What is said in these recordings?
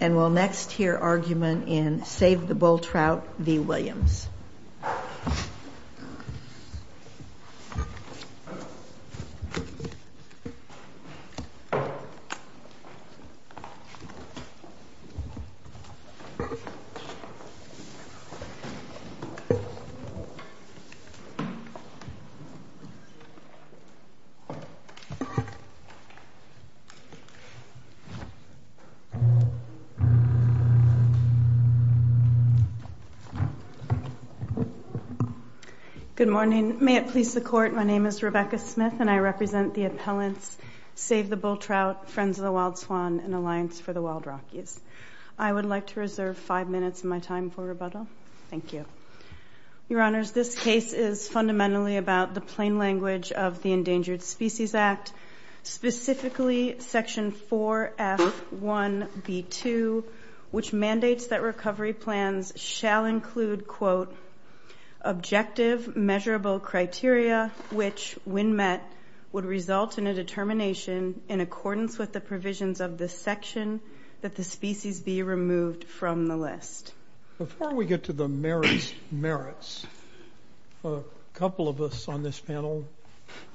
And we'll next hear argument in Save the Bull Trout v. Williams. Good morning. May it please the court. My name is Rebecca Smith and I represent the appellants Save the Bull Trout, Friends of the Wild Swan, and Alliance for the Wild Rockies. I would like to reserve five minutes of my time for rebuttal. Thank you. Your honors, this case is fundamentally about the plain language of the 1B2, which mandates that recovery plans shall include, quote, objective measurable criteria, which when met would result in a determination in accordance with the provisions of this section that the species be removed from the list. Before we get to the merits, a couple of us on this panel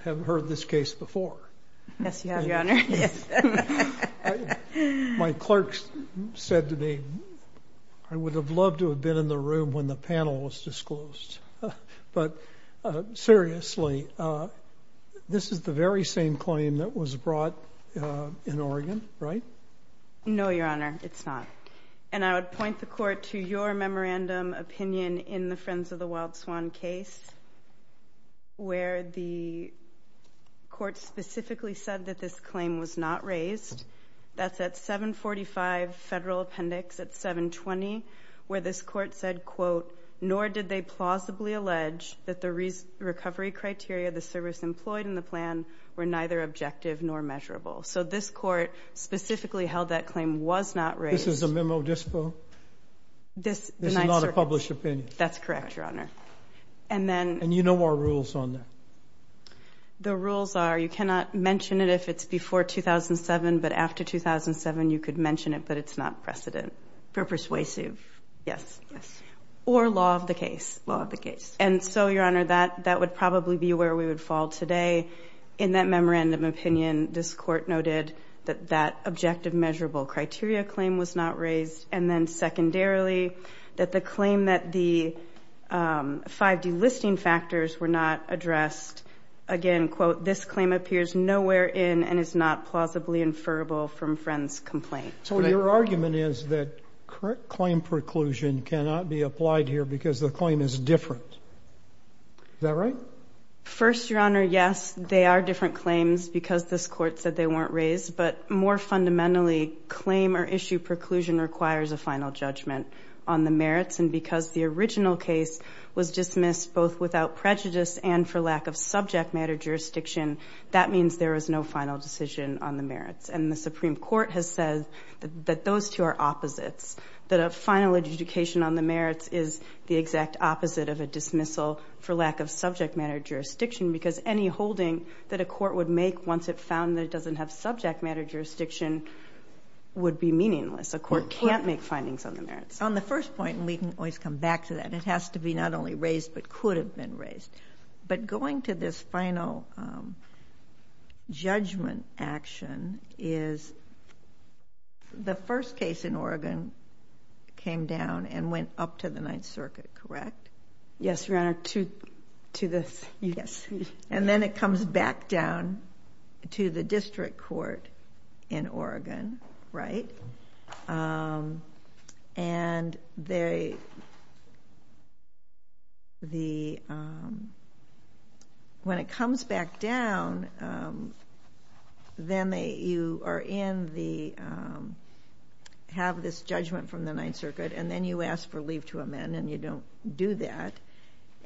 have heard this case before. Yes, you have, your honor. My clerks said to me, I would have loved to have been in the room when the panel was disclosed. But seriously, this is the very same claim that was brought in Oregon, right? No, your honor, it's not. And I would point the court to your memorandum opinion in the Friends of the Wild Swan case, where the court specifically said that this claim was not raised. That's at 745 Federal Appendix at 720, where this court said, quote, nor did they plausibly allege that the recovery criteria, the service employed in the plan were neither objective nor measurable. So this court specifically held that claim was not raised. This is a memo dispo? This is not a published opinion? That's correct, your honor. And you know our rules on that? The rules are, you cannot mention it if it's before 2007, but after 2007, you could mention it, but it's not precedent. For persuasive? Yes. Yes. Or law of the case. Law of the case. And so, your honor, that would probably be where we would fall today. In that memorandum opinion, this court noted that that objective measurable criteria claim was not raised. And then secondarily, that the claim that the 5D listing factors were not addressed, again, quote, this claim appears nowhere in and is not plausibly inferable from Friend's complaint. So your argument is that correct claim preclusion cannot be applied here because the claim is different. Is that right? First, your honor, yes, they are different claims because this court said they weren't raised, but more fundamentally claim or issue preclusion requires a final judgment on the merits. And because the original case was dismissed both without prejudice and for lack of subject matter jurisdiction, that means there is no final decision on the merits. And the Supreme Court has said that those two are opposites, that a final adjudication on the merits is the exact opposite of a dismissal for lack of subject matter jurisdiction. Because any holding that a court would make once it found that it doesn't have subject matter jurisdiction would be meaningless. A court can't make findings on the merits. On the first point, and we can always come back to that, it has to be not only raised, but could have been raised. But going to this final judgment action is the first case in Oregon came down and went up to the Ninth Circuit, correct? Yes, your honor, to the U.S. And then it comes back down to the district court in Oregon, right? And when it comes back down, then you are in the, have this judgment from the Ninth Circuit, and then you ask for leave to amend and you don't do that.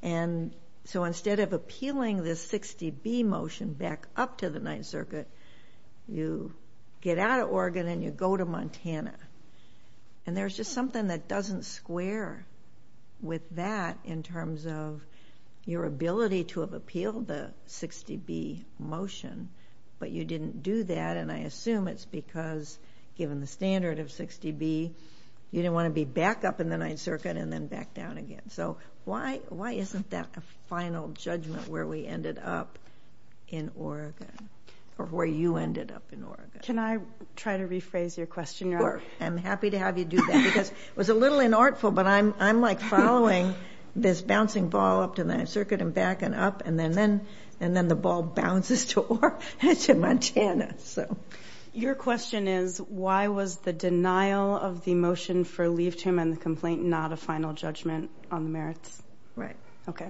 And so instead of appealing this 60B motion back up to the Ninth Circuit, you get out of Oregon and you go to Montana. And there's just something that doesn't square with that in terms of your ability to have appealed the 60B motion, but you didn't do that. And I assume it's because given the standard of 60B, you didn't want to be back up in the Ninth Circuit and then back down again. So why, why isn't that a final judgment where we ended up in Oregon, or where you ended up in Oregon? Can I try to rephrase your question, your honor? I'm happy to have you do that because it was a little inartful, but I'm, I'm like following this bouncing ball up to the Ninth Circuit and back and up. And then, and then the ball bounces to Montana, so. Your question is why was the denial of the motion for leave to amend the complaint, not a final judgment on the merits? Right. Okay.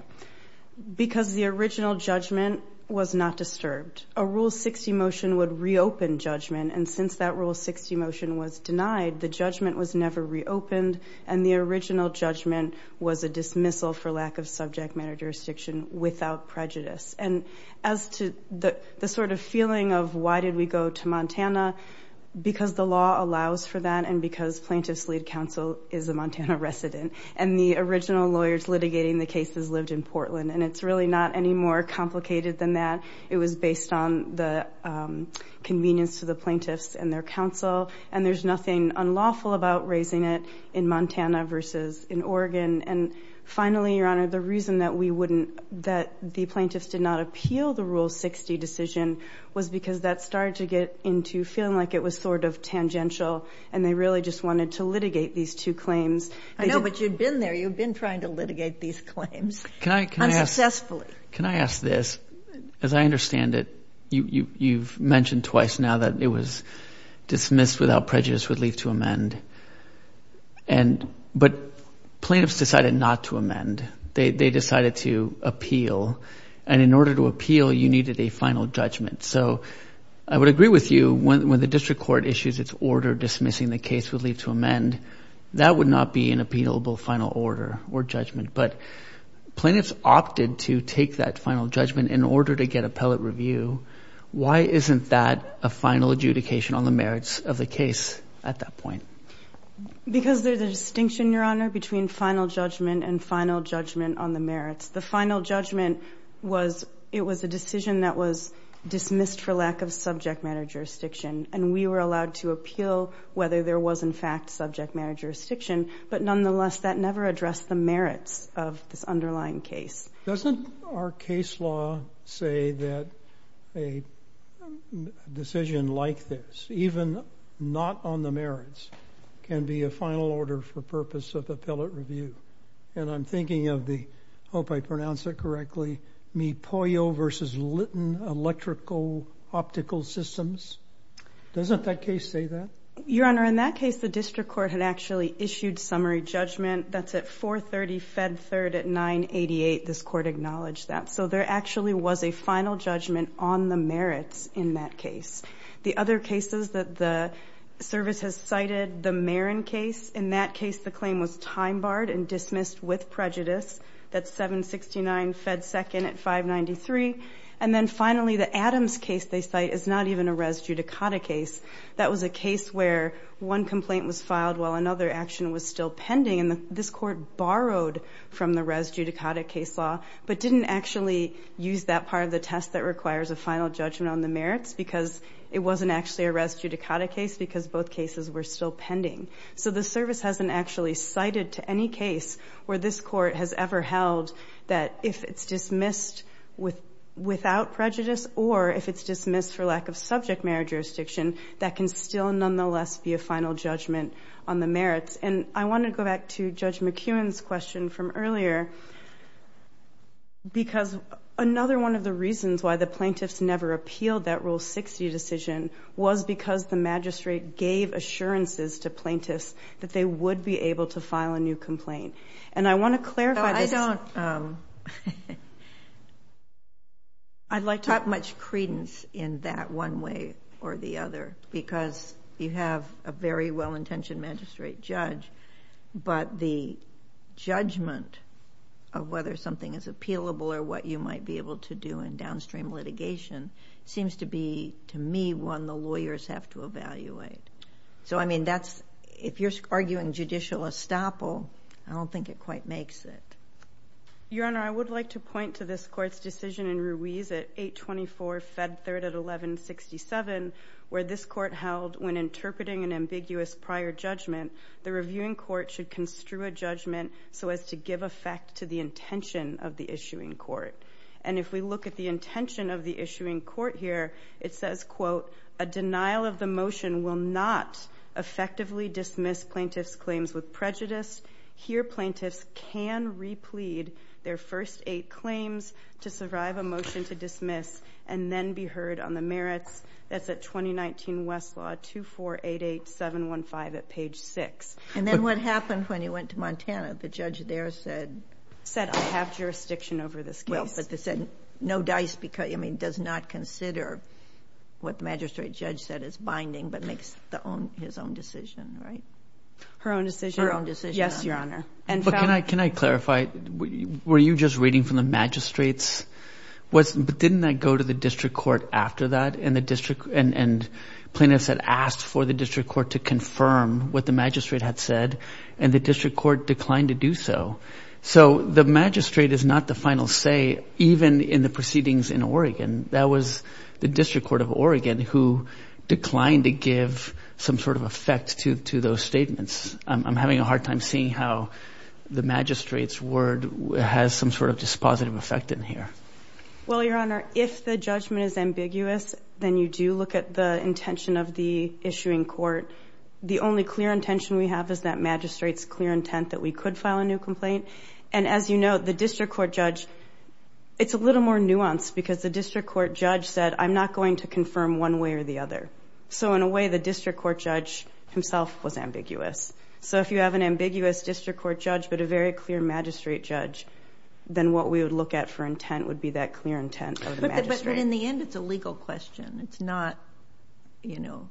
Because the original judgment was not disturbed. A Rule 60 motion would reopen judgment. And since that Rule 60 motion was denied, the judgment was never reopened. And the original judgment was a dismissal for lack of subject matter jurisdiction without prejudice. And as to the, the sort of feeling of why did we go to Montana? Because the law allows for that. And because plaintiff's lead counsel is a Montana resident and the original lawyers litigating the cases lived in Portland, and it's really not any more complicated than that. It was based on the convenience to the plaintiffs and their counsel. And there's nothing unlawful about raising it in Montana versus in Oregon. And finally, Your Honor, the reason that we wouldn't, that the plaintiffs did not appeal the Rule 60 decision was because that started to get into feeling like it was sort of tangential and they really just wanted to litigate these two claims. I know, but you'd been there. You've been trying to litigate these claims. Can I, can I ask, can I ask this? As I understand it, you, you, you've mentioned twice now that it was dismissed without prejudice would leave to amend. And, but plaintiffs decided not to amend. They, they decided to appeal. And in order to appeal, you needed a final judgment. So I would agree with you when, when the district court issues its order, dismissing the case would leave to amend, that would not be an appealable final order or judgment. But plaintiffs opted to take that final judgment in order to get appellate review. Why isn't that a final adjudication on the merits of the case at that point? Because there's a distinction, Your Honor, between final judgment and final judgment on the merits. The final judgment was, it was a decision that was dismissed for lack of subject matter jurisdiction. And we were allowed to appeal whether there was in fact subject matter of this underlying case. Doesn't our case law say that a decision like this, even not on the merits, can be a final order for purpose of appellate review. And I'm thinking of the, hope I pronounce it correctly, Mipoyo versus Litton Electrical Optical Systems. Doesn't that case say that? Your Honor, in that case, the district court had actually issued summary judgment. That's at 430 Fed 3rd at 988. This court acknowledged that. So there actually was a final judgment on the merits in that case. The other cases that the service has cited, the Marin case. In that case, the claim was time barred and dismissed with prejudice. That's 769 Fed 2nd at 593. And then finally, the Adams case they cite is not even a res judicata case. That was a case where one complaint was filed while another action was still this court borrowed from the res judicata case law, but didn't actually use that part of the test that requires a final judgment on the merits because it wasn't actually a res judicata case because both cases were still pending. So the service hasn't actually cited to any case where this court has ever held that if it's dismissed without prejudice or if it's dismissed for lack of subject matter jurisdiction, that can still nonetheless be a final judgment on the merits. And I want to go back to Judge McEwen's question from earlier. Because another one of the reasons why the plaintiffs never appealed that Rule 60 decision was because the magistrate gave assurances to plaintiffs that they would be able to file a new complaint. And I want to clarify. I don't. I'd like to have much credence in that one way or the other, because you have a very well-intentioned magistrate judge, but the judgment of whether something is appealable or what you might be able to do in downstream litigation seems to be, to me, one the lawyers have to evaluate. So, I mean, if you're arguing judicial estoppel, I don't think it quite makes it. Your Honor, I would like to point to this court's decision in Ruiz at 824 Fed Third at 1167, where this court held, when interpreting an ambiguous prior judgment, the reviewing court should construe a judgment so as to give effect to the intention of the issuing court. And if we look at the intention of the issuing court here, it says, quote, a denial of the motion will not effectively dismiss plaintiff's claims with prejudice. Here, plaintiffs can replead their first eight claims to survive a motion to dismiss and then be heard on the merits. That's at 2019 Westlaw, 2488715 at page six. And then what happened when he went to Montana? The judge there said, I have jurisdiction over this case. Well, but they said, no dice because, I mean, does not consider what the magistrate judge said as binding, but makes his own decision, right? Her own decision? Her own decision, Your Honor. But can I clarify, were you just reading from the magistrates? But didn't that go to the district court after that? And the district and plaintiffs had asked for the district court to confirm what the magistrate had said and the district court declined to do so. So the magistrate is not the final say, even in the proceedings in Oregon. That was the district court of Oregon who declined to give some sort of effect to those statements. I'm having a hard time seeing how the magistrate's word has some sort of positive effect in here. Well, Your Honor, if the judgment is ambiguous, then you do look at the intention of the issuing court. The only clear intention we have is that magistrate's clear intent that we could file a new complaint. And as you know, the district court judge, it's a little more nuanced because the district court judge said, I'm not going to confirm one way or the other. So in a way, the district court judge himself was ambiguous. So if you have an ambiguous district court judge, but a very clear magistrate judge, then what we would look at for intent would be that clear intent of the magistrate. But in the end, it's a legal question. It's not, you know,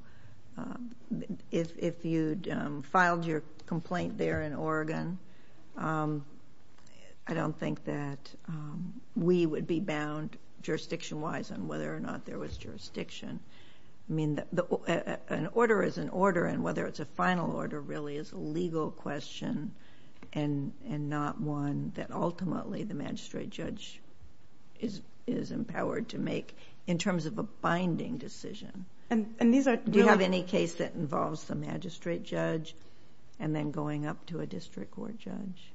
if you'd filed your complaint there in Oregon, I don't think that we would be bound jurisdiction-wise on whether or not there was jurisdiction. I mean, an order is an order and whether it's a final order really is a legal question and not one that ultimately the magistrate judge is empowered to make in terms of a binding decision. And do you have any case that involves the magistrate judge and then going up to a district court judge?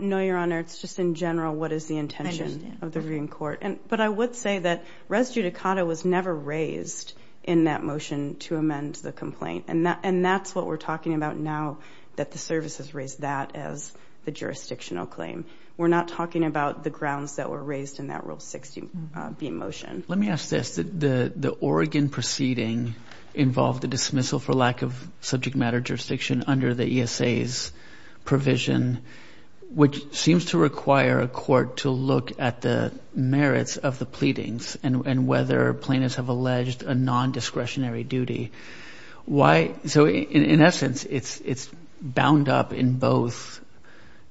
No, Your Honor. It's just in general, what is the intention of the reading court? But I would say that res judicata was never raised in that motion to amend the complaint. And that's what we're talking about now that the service has raised that as the jurisdictional claim. We're not talking about the grounds that were raised in that Rule 60B motion. Let me ask this. The Oregon proceeding involved the dismissal for lack of subject matter jurisdiction under the ESA's provision, which seems to require a court to look at the merits of the pleadings and whether plaintiffs have alleged a non-discretionary duty. So in essence, it's bound up in both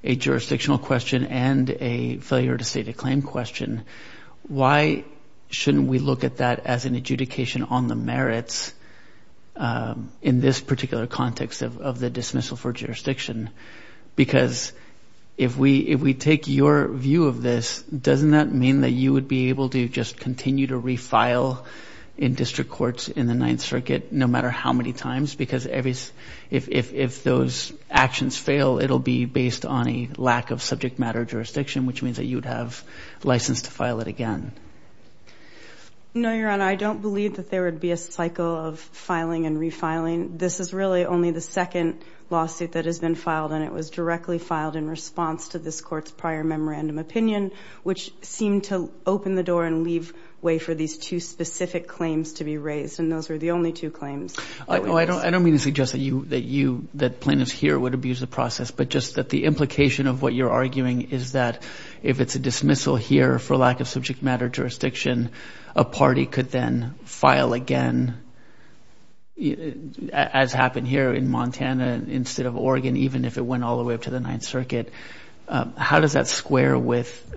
a jurisdictional question and a failure to state a claim question. Why shouldn't we look at that as an adjudication on the merits in this particular context of the dismissal for jurisdiction? Because if we take your view of this, doesn't that mean that you would be able to just continue to refile in district courts in the Ninth Circuit no matter how many times? Because if those actions fail, it'll be based on a lack of subject matter jurisdiction, which means that you'd have license to file it again. No, Your Honor, I don't believe that there would be a cycle of filing and refiling. This is really only the second lawsuit that has been filed, and it was directly filed in response to this court's prior memorandum opinion, which seemed to open the door and leave way for these two specific claims to be raised. And those were the only two claims. I don't mean to suggest that plaintiffs here would abuse the process, but just that the implication of what you're arguing is that if it's a dismissal here for lack of subject matter jurisdiction, a party could then file again, as happened here in Montana instead of Oregon, even if it went all the way up to the Ninth Circuit. How does that square with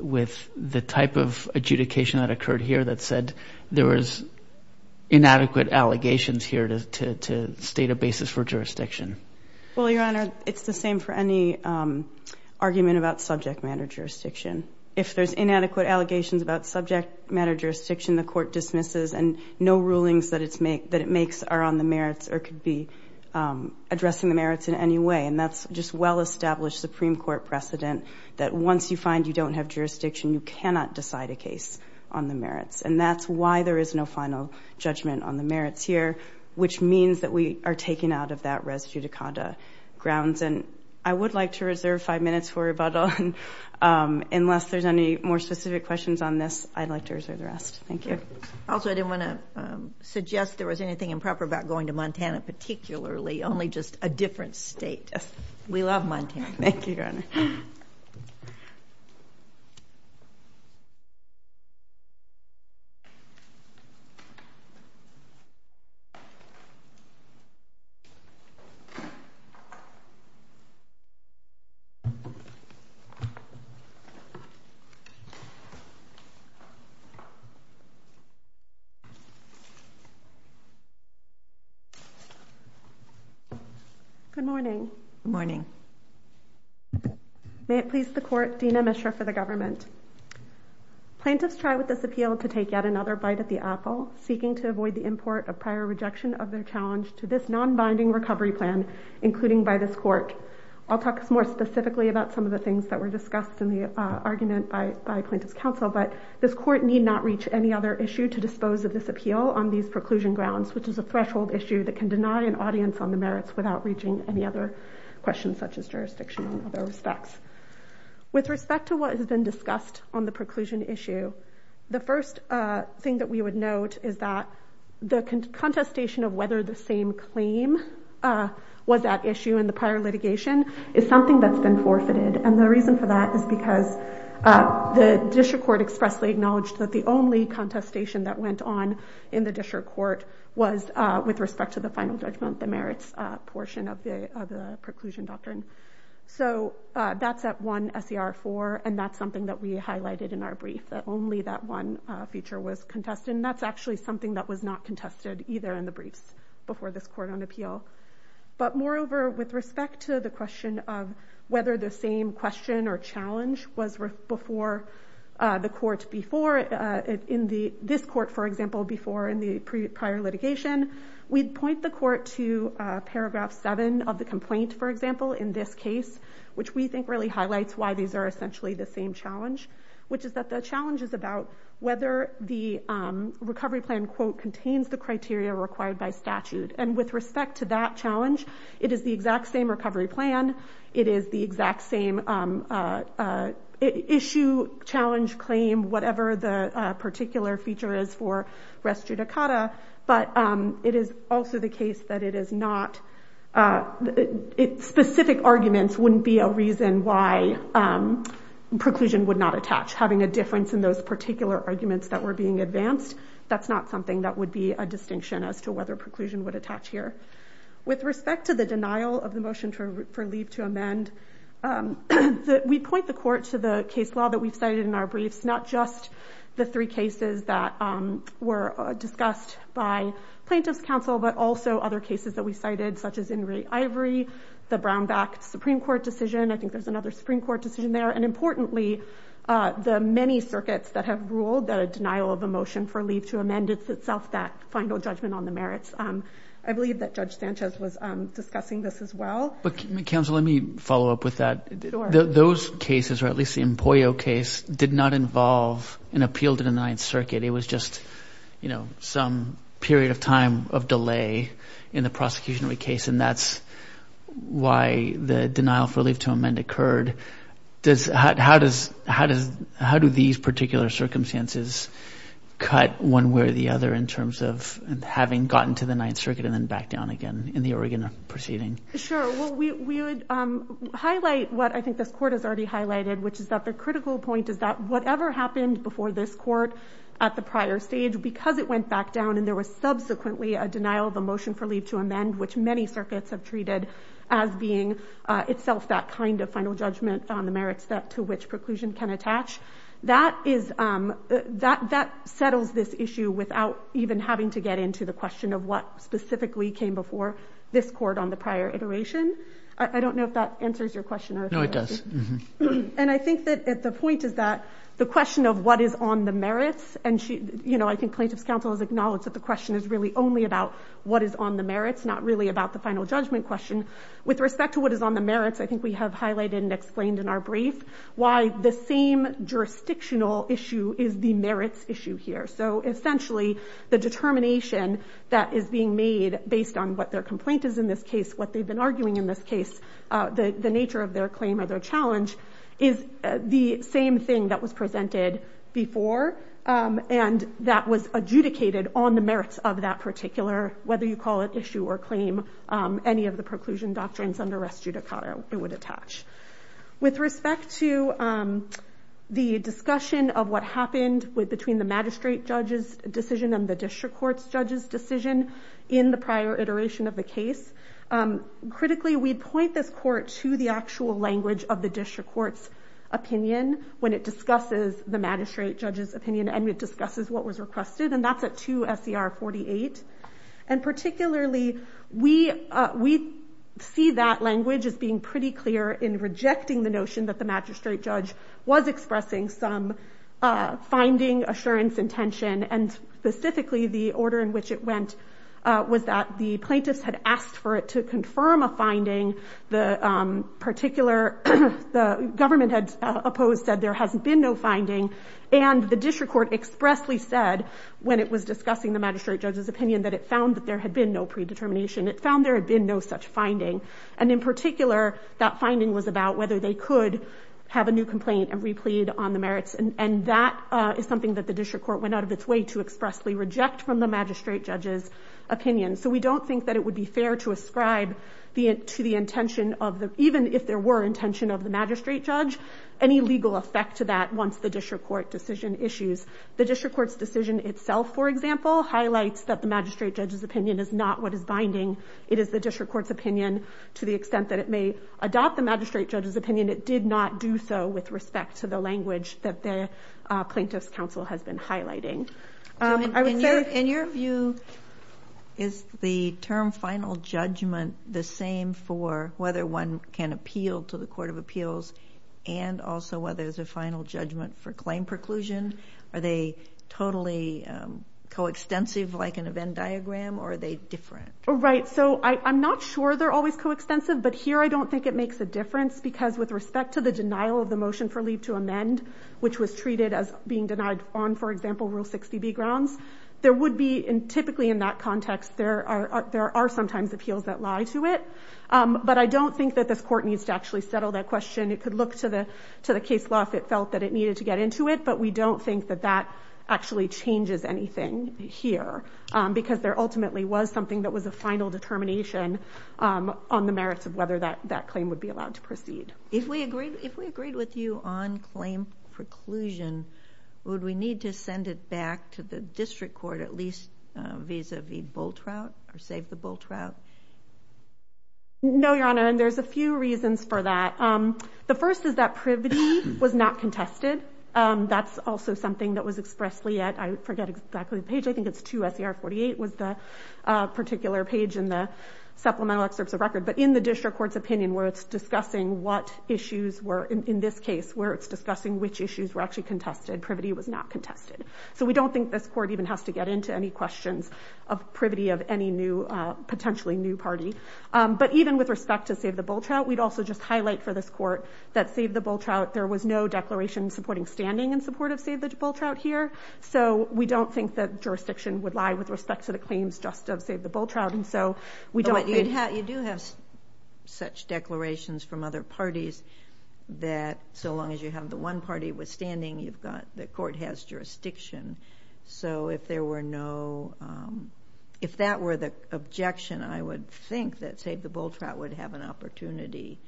the type of adjudication that occurred here that said there was inadequate allegations here to state a basis for jurisdiction? Well, Your Honor, it's the same for any argument about subject matter jurisdiction. If there's inadequate allegations about subject matter jurisdiction, the court dismisses and no rulings that it makes are on the merits or could be addressing the merits in any way. And that's just well-established Supreme Court precedent that once you find you don't have jurisdiction, you cannot decide a case on the merits. And that's why there is no final judgment on the merits here, which means that we are taken out of that res judicata grounds. And I would like to reserve five minutes for rebuttal, unless there's any more specific questions on this, I'd like to reserve the rest. Thank you. Also, I didn't want to suggest there was anything improper about going to We love Montana. Thank you, Your Honor. Good morning. May it please the court, Dina Mishra for the government. Plaintiffs try with this appeal to take yet another bite at the apple, seeking to avoid the import of prior rejection of their challenge to this non-binding recovery plan, including by this court. I'll talk more specifically about some of the things that were discussed in the argument by plaintiff's counsel, but this court need not reach any other issue to dispose of this appeal on these preclusion grounds, which is a threshold issue that can deny an audience on the merits without reaching any other questions such as jurisdiction on other respects. With respect to what has been discussed on the preclusion issue, the first thing that we would note is that the contestation of whether the same claim was at issue in the prior litigation is something that's been forfeited. And the reason for that is because the district court expressly acknowledged that the only contestation that went on in the district court was with respect to the final judgment, the merits portion of the preclusion doctrine. So that's at one SER4, and that's something that we highlighted in our brief, that only that one feature was contested, and that's actually something that was not contested either in the briefs before this court on appeal. But moreover, with respect to the question of whether the same question or challenge was before the court before in this court, for example, before in the prior litigation, we'd point the court to paragraph seven of the complaint, for example, in this case, which we think really highlights why these are essentially the same challenge, which is that the challenge is about whether the recovery plan, quote, contains the criteria required by statute. And with respect to that challenge, it is the exact same recovery plan. It is the exact same issue, challenge, claim, whatever the particular feature is for res judicata, but it is also the case that it is not... Specific arguments wouldn't be a reason why preclusion would not attach. Having a difference in those particular arguments that were being advanced, that's not something that would be a distinction as to whether preclusion would attach here. With respect to the denial of the motion for leave to amend, we point the court to the case law that we've cited in our briefs, not just the three cases that were discussed by plaintiff's counsel, but also other cases that we cited, such as Ingrate Ivory, the Brownback Supreme Court decision. I think there's another Supreme Court decision there. And importantly, the many circuits that have ruled that a denial of a motion for leave to amend itself, that final judgment on the merits. I believe that Judge Sanchez was discussing this as well. But counsel, let me follow up with that. Those cases, or at least the Empollio case, did not involve an appeal to the Ninth Circuit. It was just some period of time of delay in the prosecutionary case. And that's why the denial for leave to amend occurred. How do these particular circumstances cut one way or the other in terms of having gotten to the Ninth Circuit and then back down again in the Oregon proceeding? Sure. Well, we would highlight what I think this court has already highlighted, which is that the critical point is that whatever happened before this court at the prior stage, because it went back down and there was subsequently a denial of a motion for leave to amend, which many circuits have treated as being itself that kind of final judgment on the merits that to which preclusion can attach, that settles this issue without even having to get into the question of what specifically came before this court on the prior iteration. I don't know if that answers your question. No, it does. And I think that the point is that the question of what is on the merits and she, you know, I think plaintiff's counsel has acknowledged that the question is really only about what is on the merits, not really about the final judgment question with respect to what is on the merits. I think we have highlighted and explained in our brief why the same jurisdictional issue is the merits issue here. So essentially the determination that is being made based on what their complaint is in this case, what they've been arguing in this case, the nature of their claim or their challenge is the same thing that was presented before and that was adjudicated on the merits of that particular, whether you call it issue or claim, any of the preclusion doctrines under res judicata it would attach. With respect to the discussion of what happened with between the magistrate judge's decision and the district court's judge's decision in the prior iteration of the case, critically we'd point this court to the actual language of the district court's opinion when it discusses the magistrate judge's opinion and it discusses what was requested and that's at 2 SCR 48. And particularly we see that language as being pretty clear in rejecting the notion that the magistrate judge was expressing some finding assurance intention and specifically the order in which it went was that the plaintiffs had asked for it to confirm a finding. The particular, the government had opposed said there hasn't been no finding and the district court expressly said when it was discussing the magistrate judge's opinion that it found that there had been no predetermination. It found there had been no such finding. And in particular, that finding was about whether they could have a new complaint and replete on the merits. And that is something that the district court went out of its way to expressly reject from the magistrate judge's opinion. So we don't think that it would be fair to ascribe to the intention of the, even if there were intention of the magistrate judge, any legal effect to that once the district court decision issues. The district court's decision itself, for example, highlights that the magistrate judge's opinion is not what is binding. It is the district court's opinion to the extent that it may adopt the magistrate judge's opinion. And it did not do so with respect to the language that the plaintiff's counsel has been highlighting. In your view, is the term final judgment the same for whether one can appeal to the court of appeals and also whether there's a final judgment for claim preclusion, are they totally coextensive like an event diagram or are they different? Right. So I'm not sure they're always coextensive, but here I don't think it has to do with respect to the denial of the motion for leave to amend, which was treated as being denied on, for example, rule 60B grounds, there would be in typically in that context, there are, there are sometimes appeals that lie to it, but I don't think that this court needs to actually settle that question. It could look to the, to the case law if it felt that it needed to get into it, but we don't think that that actually changes anything here because there ultimately was something that was a final determination on the merits of whether that, that claim would be allowed to proceed. If we agreed, if we agreed with you on claim preclusion, would we need to send it back to the district court, at least vis-a-vis Bultrout or save the Bultrout? No, Your Honor. And there's a few reasons for that. The first is that Privdee was not contested. That's also something that was expressly at, I forget exactly the page. I think it's 2SER 48 was the particular page in the supplemental excerpts of what issues were, in this case, where it's discussing which issues were actually contested, Privdee was not contested. So we don't think this court even has to get into any questions of Privdee of any new, potentially new party. But even with respect to save the Bultrout, we'd also just highlight for this court that save the Bultrout, there was no declaration supporting standing in support of save the Bultrout here. So we don't think that jurisdiction would lie with respect to the claims just of save the Bultrout. And so we don't think... But you do have such declarations from other parties that so long as you have the one party withstanding, you've got, the court has jurisdiction. So if there were no, if that were the objection, I would think that save the Bultrout would have an opportunity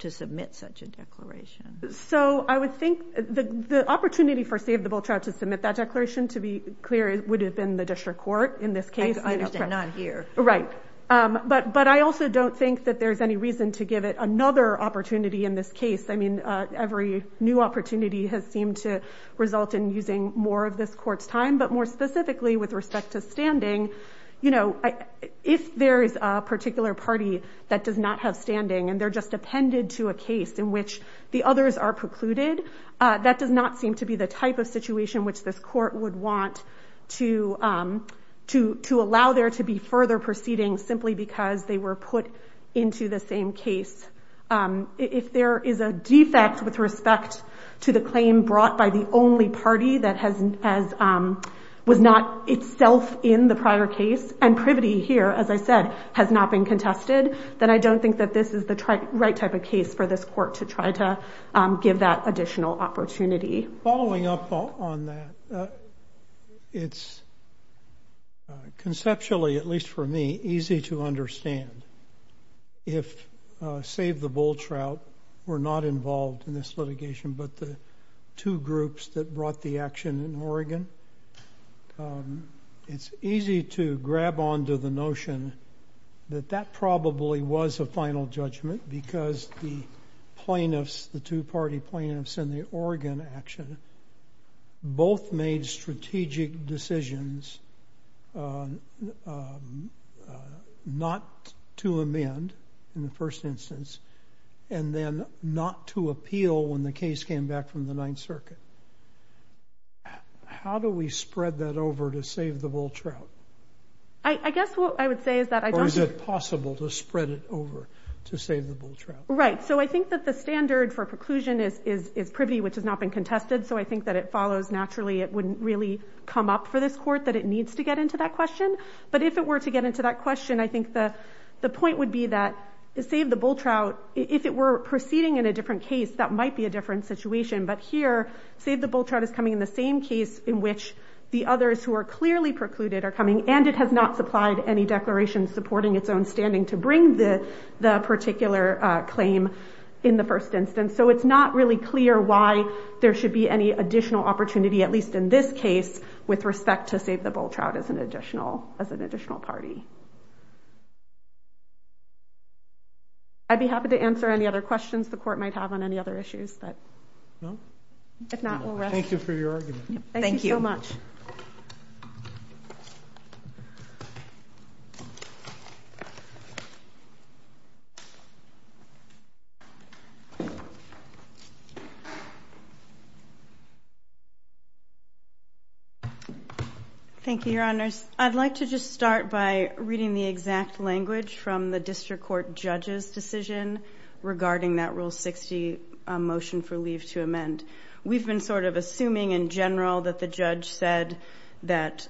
to submit such a declaration. So I would think the opportunity for save the Bultrout to submit that declaration, to be clear, would have been the district court in this case. I understand, not here. Right. But I also don't think that there's any reason to give it another opportunity in this case. I mean, every new opportunity has seemed to result in using more of this court's time, but more specifically with respect to standing, if there is a particular party that does not have standing and they're just appended to a case in which the others are precluded, that does not seem to be the type of allow there to be further proceeding simply because they were put into the same case, if there is a defect with respect to the claim brought by the only party that was not itself in the prior case and privity here, as I said, has not been contested, then I don't think that this is the right type of case for this court to try to give that additional opportunity. Following up on that, it's conceptually, at least for me, easy to understand. If Save the Bultrout were not involved in this litigation, but the two groups that brought the action in Oregon, it's easy to grab onto the notion that that probably was a final judgment because the plaintiffs, the two party plaintiffs in the Oregon action, both made strategic decisions not to amend in the first instance and then not to appeal when the case came back from the Ninth Circuit. How do we spread that over to Save the Bultrout? I guess what I would say is that... Or is it possible to spread it over to Save the Bultrout? Right, so I think it's privity which has not been contested, so I think that it follows naturally it wouldn't really come up for this court that it needs to get into that question, but if it were to get into that question, I think the point would be that Save the Bultrout, if it were proceeding in a different case, that might be a different situation, but here Save the Bultrout is coming in the same case in which the others who are clearly precluded are coming and it has not supplied any declaration supporting its own standing to bring the particular claim in the first instance, so it's not really clear why there should be any additional opportunity, at least in this case, with respect to Save the Bultrout as an additional party. I'd be happy to answer any other questions the court might have on any other issues, but if not, we'll rest. Thank you for your argument. Thank you so much. Thank you, Your Honors. I'd like to just start by reading the exact language from the district court judge's decision regarding that Rule 60 motion for leave to amend. We've been sort of assuming in general that the judge said that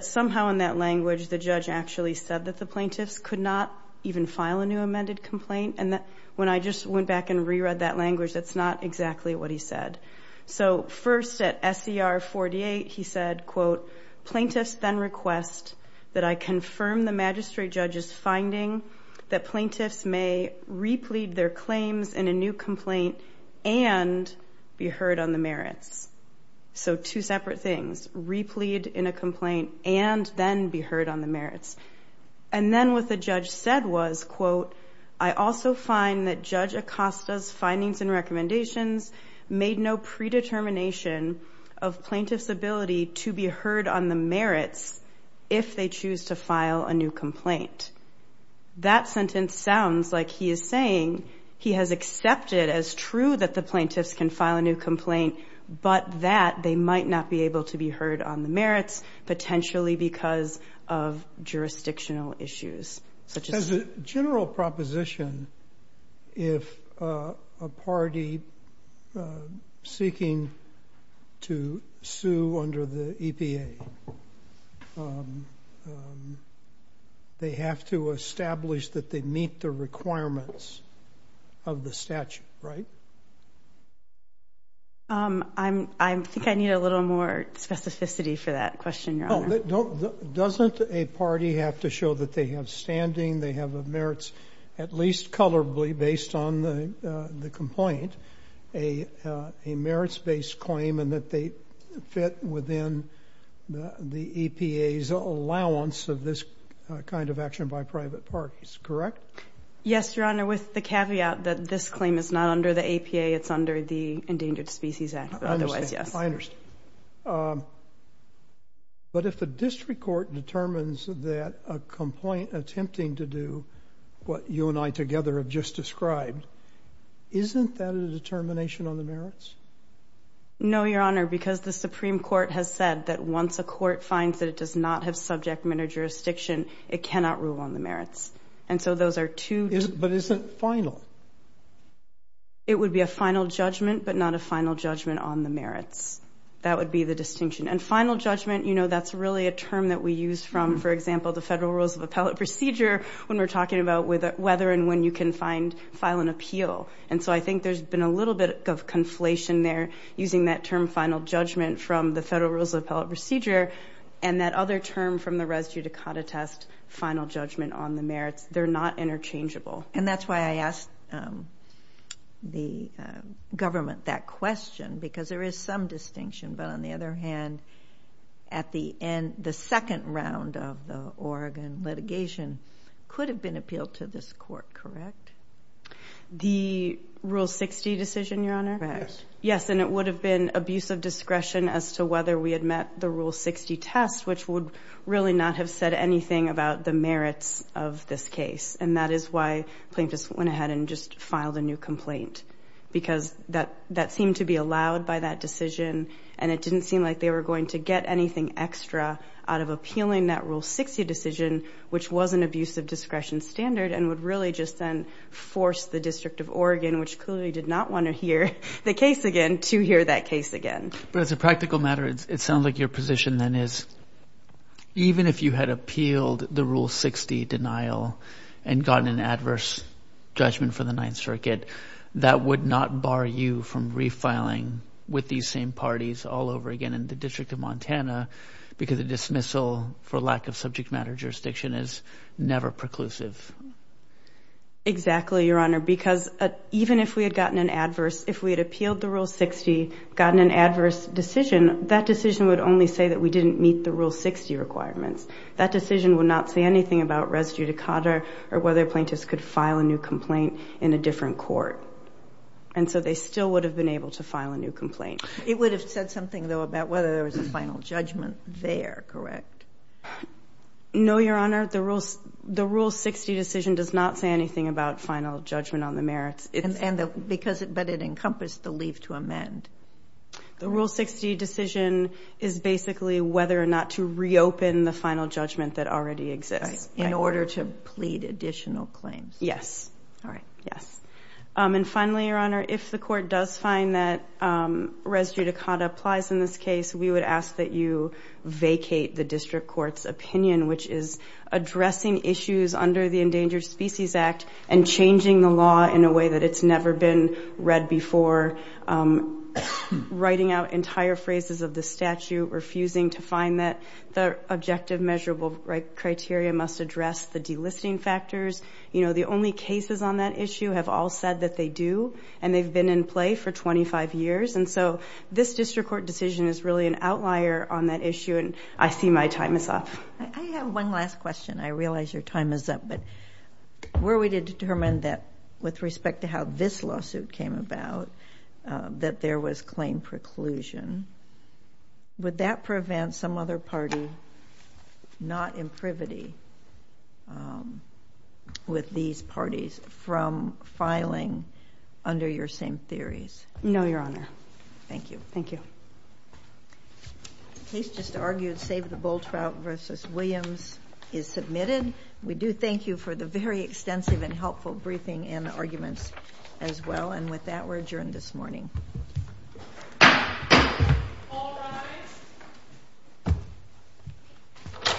somehow in that language the judge actually said that the plaintiffs could not even file a new amended complaint, and that when I just went back and re-read that language, that's not exactly what he said. So first at SER 48, he said, quote, plaintiffs then request that I confirm the magistrate judge's finding that plaintiffs may replead their claims in a new complaint and be heard on the merits. So two separate things, replead in a complaint and then be heard on the merits. What the judge said was, quote, I also find that Judge Acosta's findings and recommendations made no predetermination of plaintiffs' ability to be heard on the merits if they choose to file a new complaint. That sentence sounds like he is saying he has accepted as true that the plaintiffs can file a new complaint, but that they might not be able to be heard on the merits, potentially because of jurisdictional issues. As a general proposition, if a party seeking to sue under the EPA, they have to establish that they meet the requirements of the statute, right? I think I need a little more specificity for that question, Your Honor. Doesn't a party have to show that they have standing, they have a merits, at least colorably based on the complaint, a merits-based claim and that they fit within the EPA's allowance of this kind of action by private parties, correct? Yes, Your Honor, with the caveat that this claim is not under the EPA, it's under the Endangered Species Act. Otherwise, yes. I understand. But if a district court determines that a complaint attempting to do what you and I together have just described, isn't that a determination on the merits? No, Your Honor, because the Supreme Court has said that once a court finds that it does not have subject matter jurisdiction, it cannot rule on the merits. And so those are two different things. But isn't final? It would be a final judgment, but not a final judgment on the merits. That would be the distinction. And final judgment, you know, that's really a term that we use from, for example, the Federal Rules of Appellate Procedure when we're talking about whether and when you can find, file an appeal. And so I think there's been a little bit of conflation there using that term final judgment from the Federal Rules of Appellate Procedure and that other term from the residue to CAUDA test, final judgment on the merits. They're not interchangeable. And that's why I asked the government that question, because there is some distinction. But on the other hand, at the end, the second round of the Oregon litigation could have been appealed to this court, correct? The Rule 60 decision, Your Honor? Yes. And it would have been abuse of discretion as to whether we had met the Rule 60 test, which would really not have said anything about the merits of this case. And that is why plaintiffs went ahead and just filed a new complaint, because that seemed to be allowed by that decision. And it didn't seem like they were going to get anything extra out of appealing that Rule 60 decision, which was an abuse of discretion standard and would really just then force the District of Oregon, which clearly did not want to hear the case again, to hear that case again. But as a practical matter, it sounds like your position then is, even if you had appealed the Rule 60 denial and gotten an adverse judgment for the Ninth Circuit, that would not bar you from refiling with these same parties all over again in the District of Montana, because a dismissal for lack of subject matter jurisdiction is never preclusive. Exactly, Your Honor, because even if we had gotten an adverse, if we had appealed the Rule 60, gotten an adverse decision, that decision would only say that we didn't meet the Rule 60 requirements. That decision would not say anything about res judicata or whether plaintiffs could file a new complaint in a different court. And so they still would have been able to file a new complaint. It would have said something, though, about whether there was a final judgment there, correct? No, Your Honor. The Rule 60 decision does not say anything about final judgment on the merits. And because it encompassed the leave to amend. The Rule 60 decision is basically whether or not to reopen the final judgment that already exists. In order to plead additional claims. Yes. All right. Yes. And finally, Your Honor, if the court does find that res judicata applies in this case, we would ask that you vacate the district court's opinion, which is addressing issues under the Endangered Species Act and changing the writing out entire phrases of the statute, refusing to find that the objective measurable criteria must address the delisting factors. You know, the only cases on that issue have all said that they do. And they've been in play for 25 years. And so this district court decision is really an outlier on that issue. And I see my time is up. I have one last question. I realize your time is up, but were we to determine that with respect to how this lawsuit came about, that there was claim preclusion, would that prevent some other party not in privity with these parties from filing under your same theories? No, Your Honor. Thank you. Thank you. Case just argued, Save the Bull Trout v. Williams is submitted. We do thank you for the very extensive and helpful briefing and the arguments as well. And with that, we're adjourned this morning.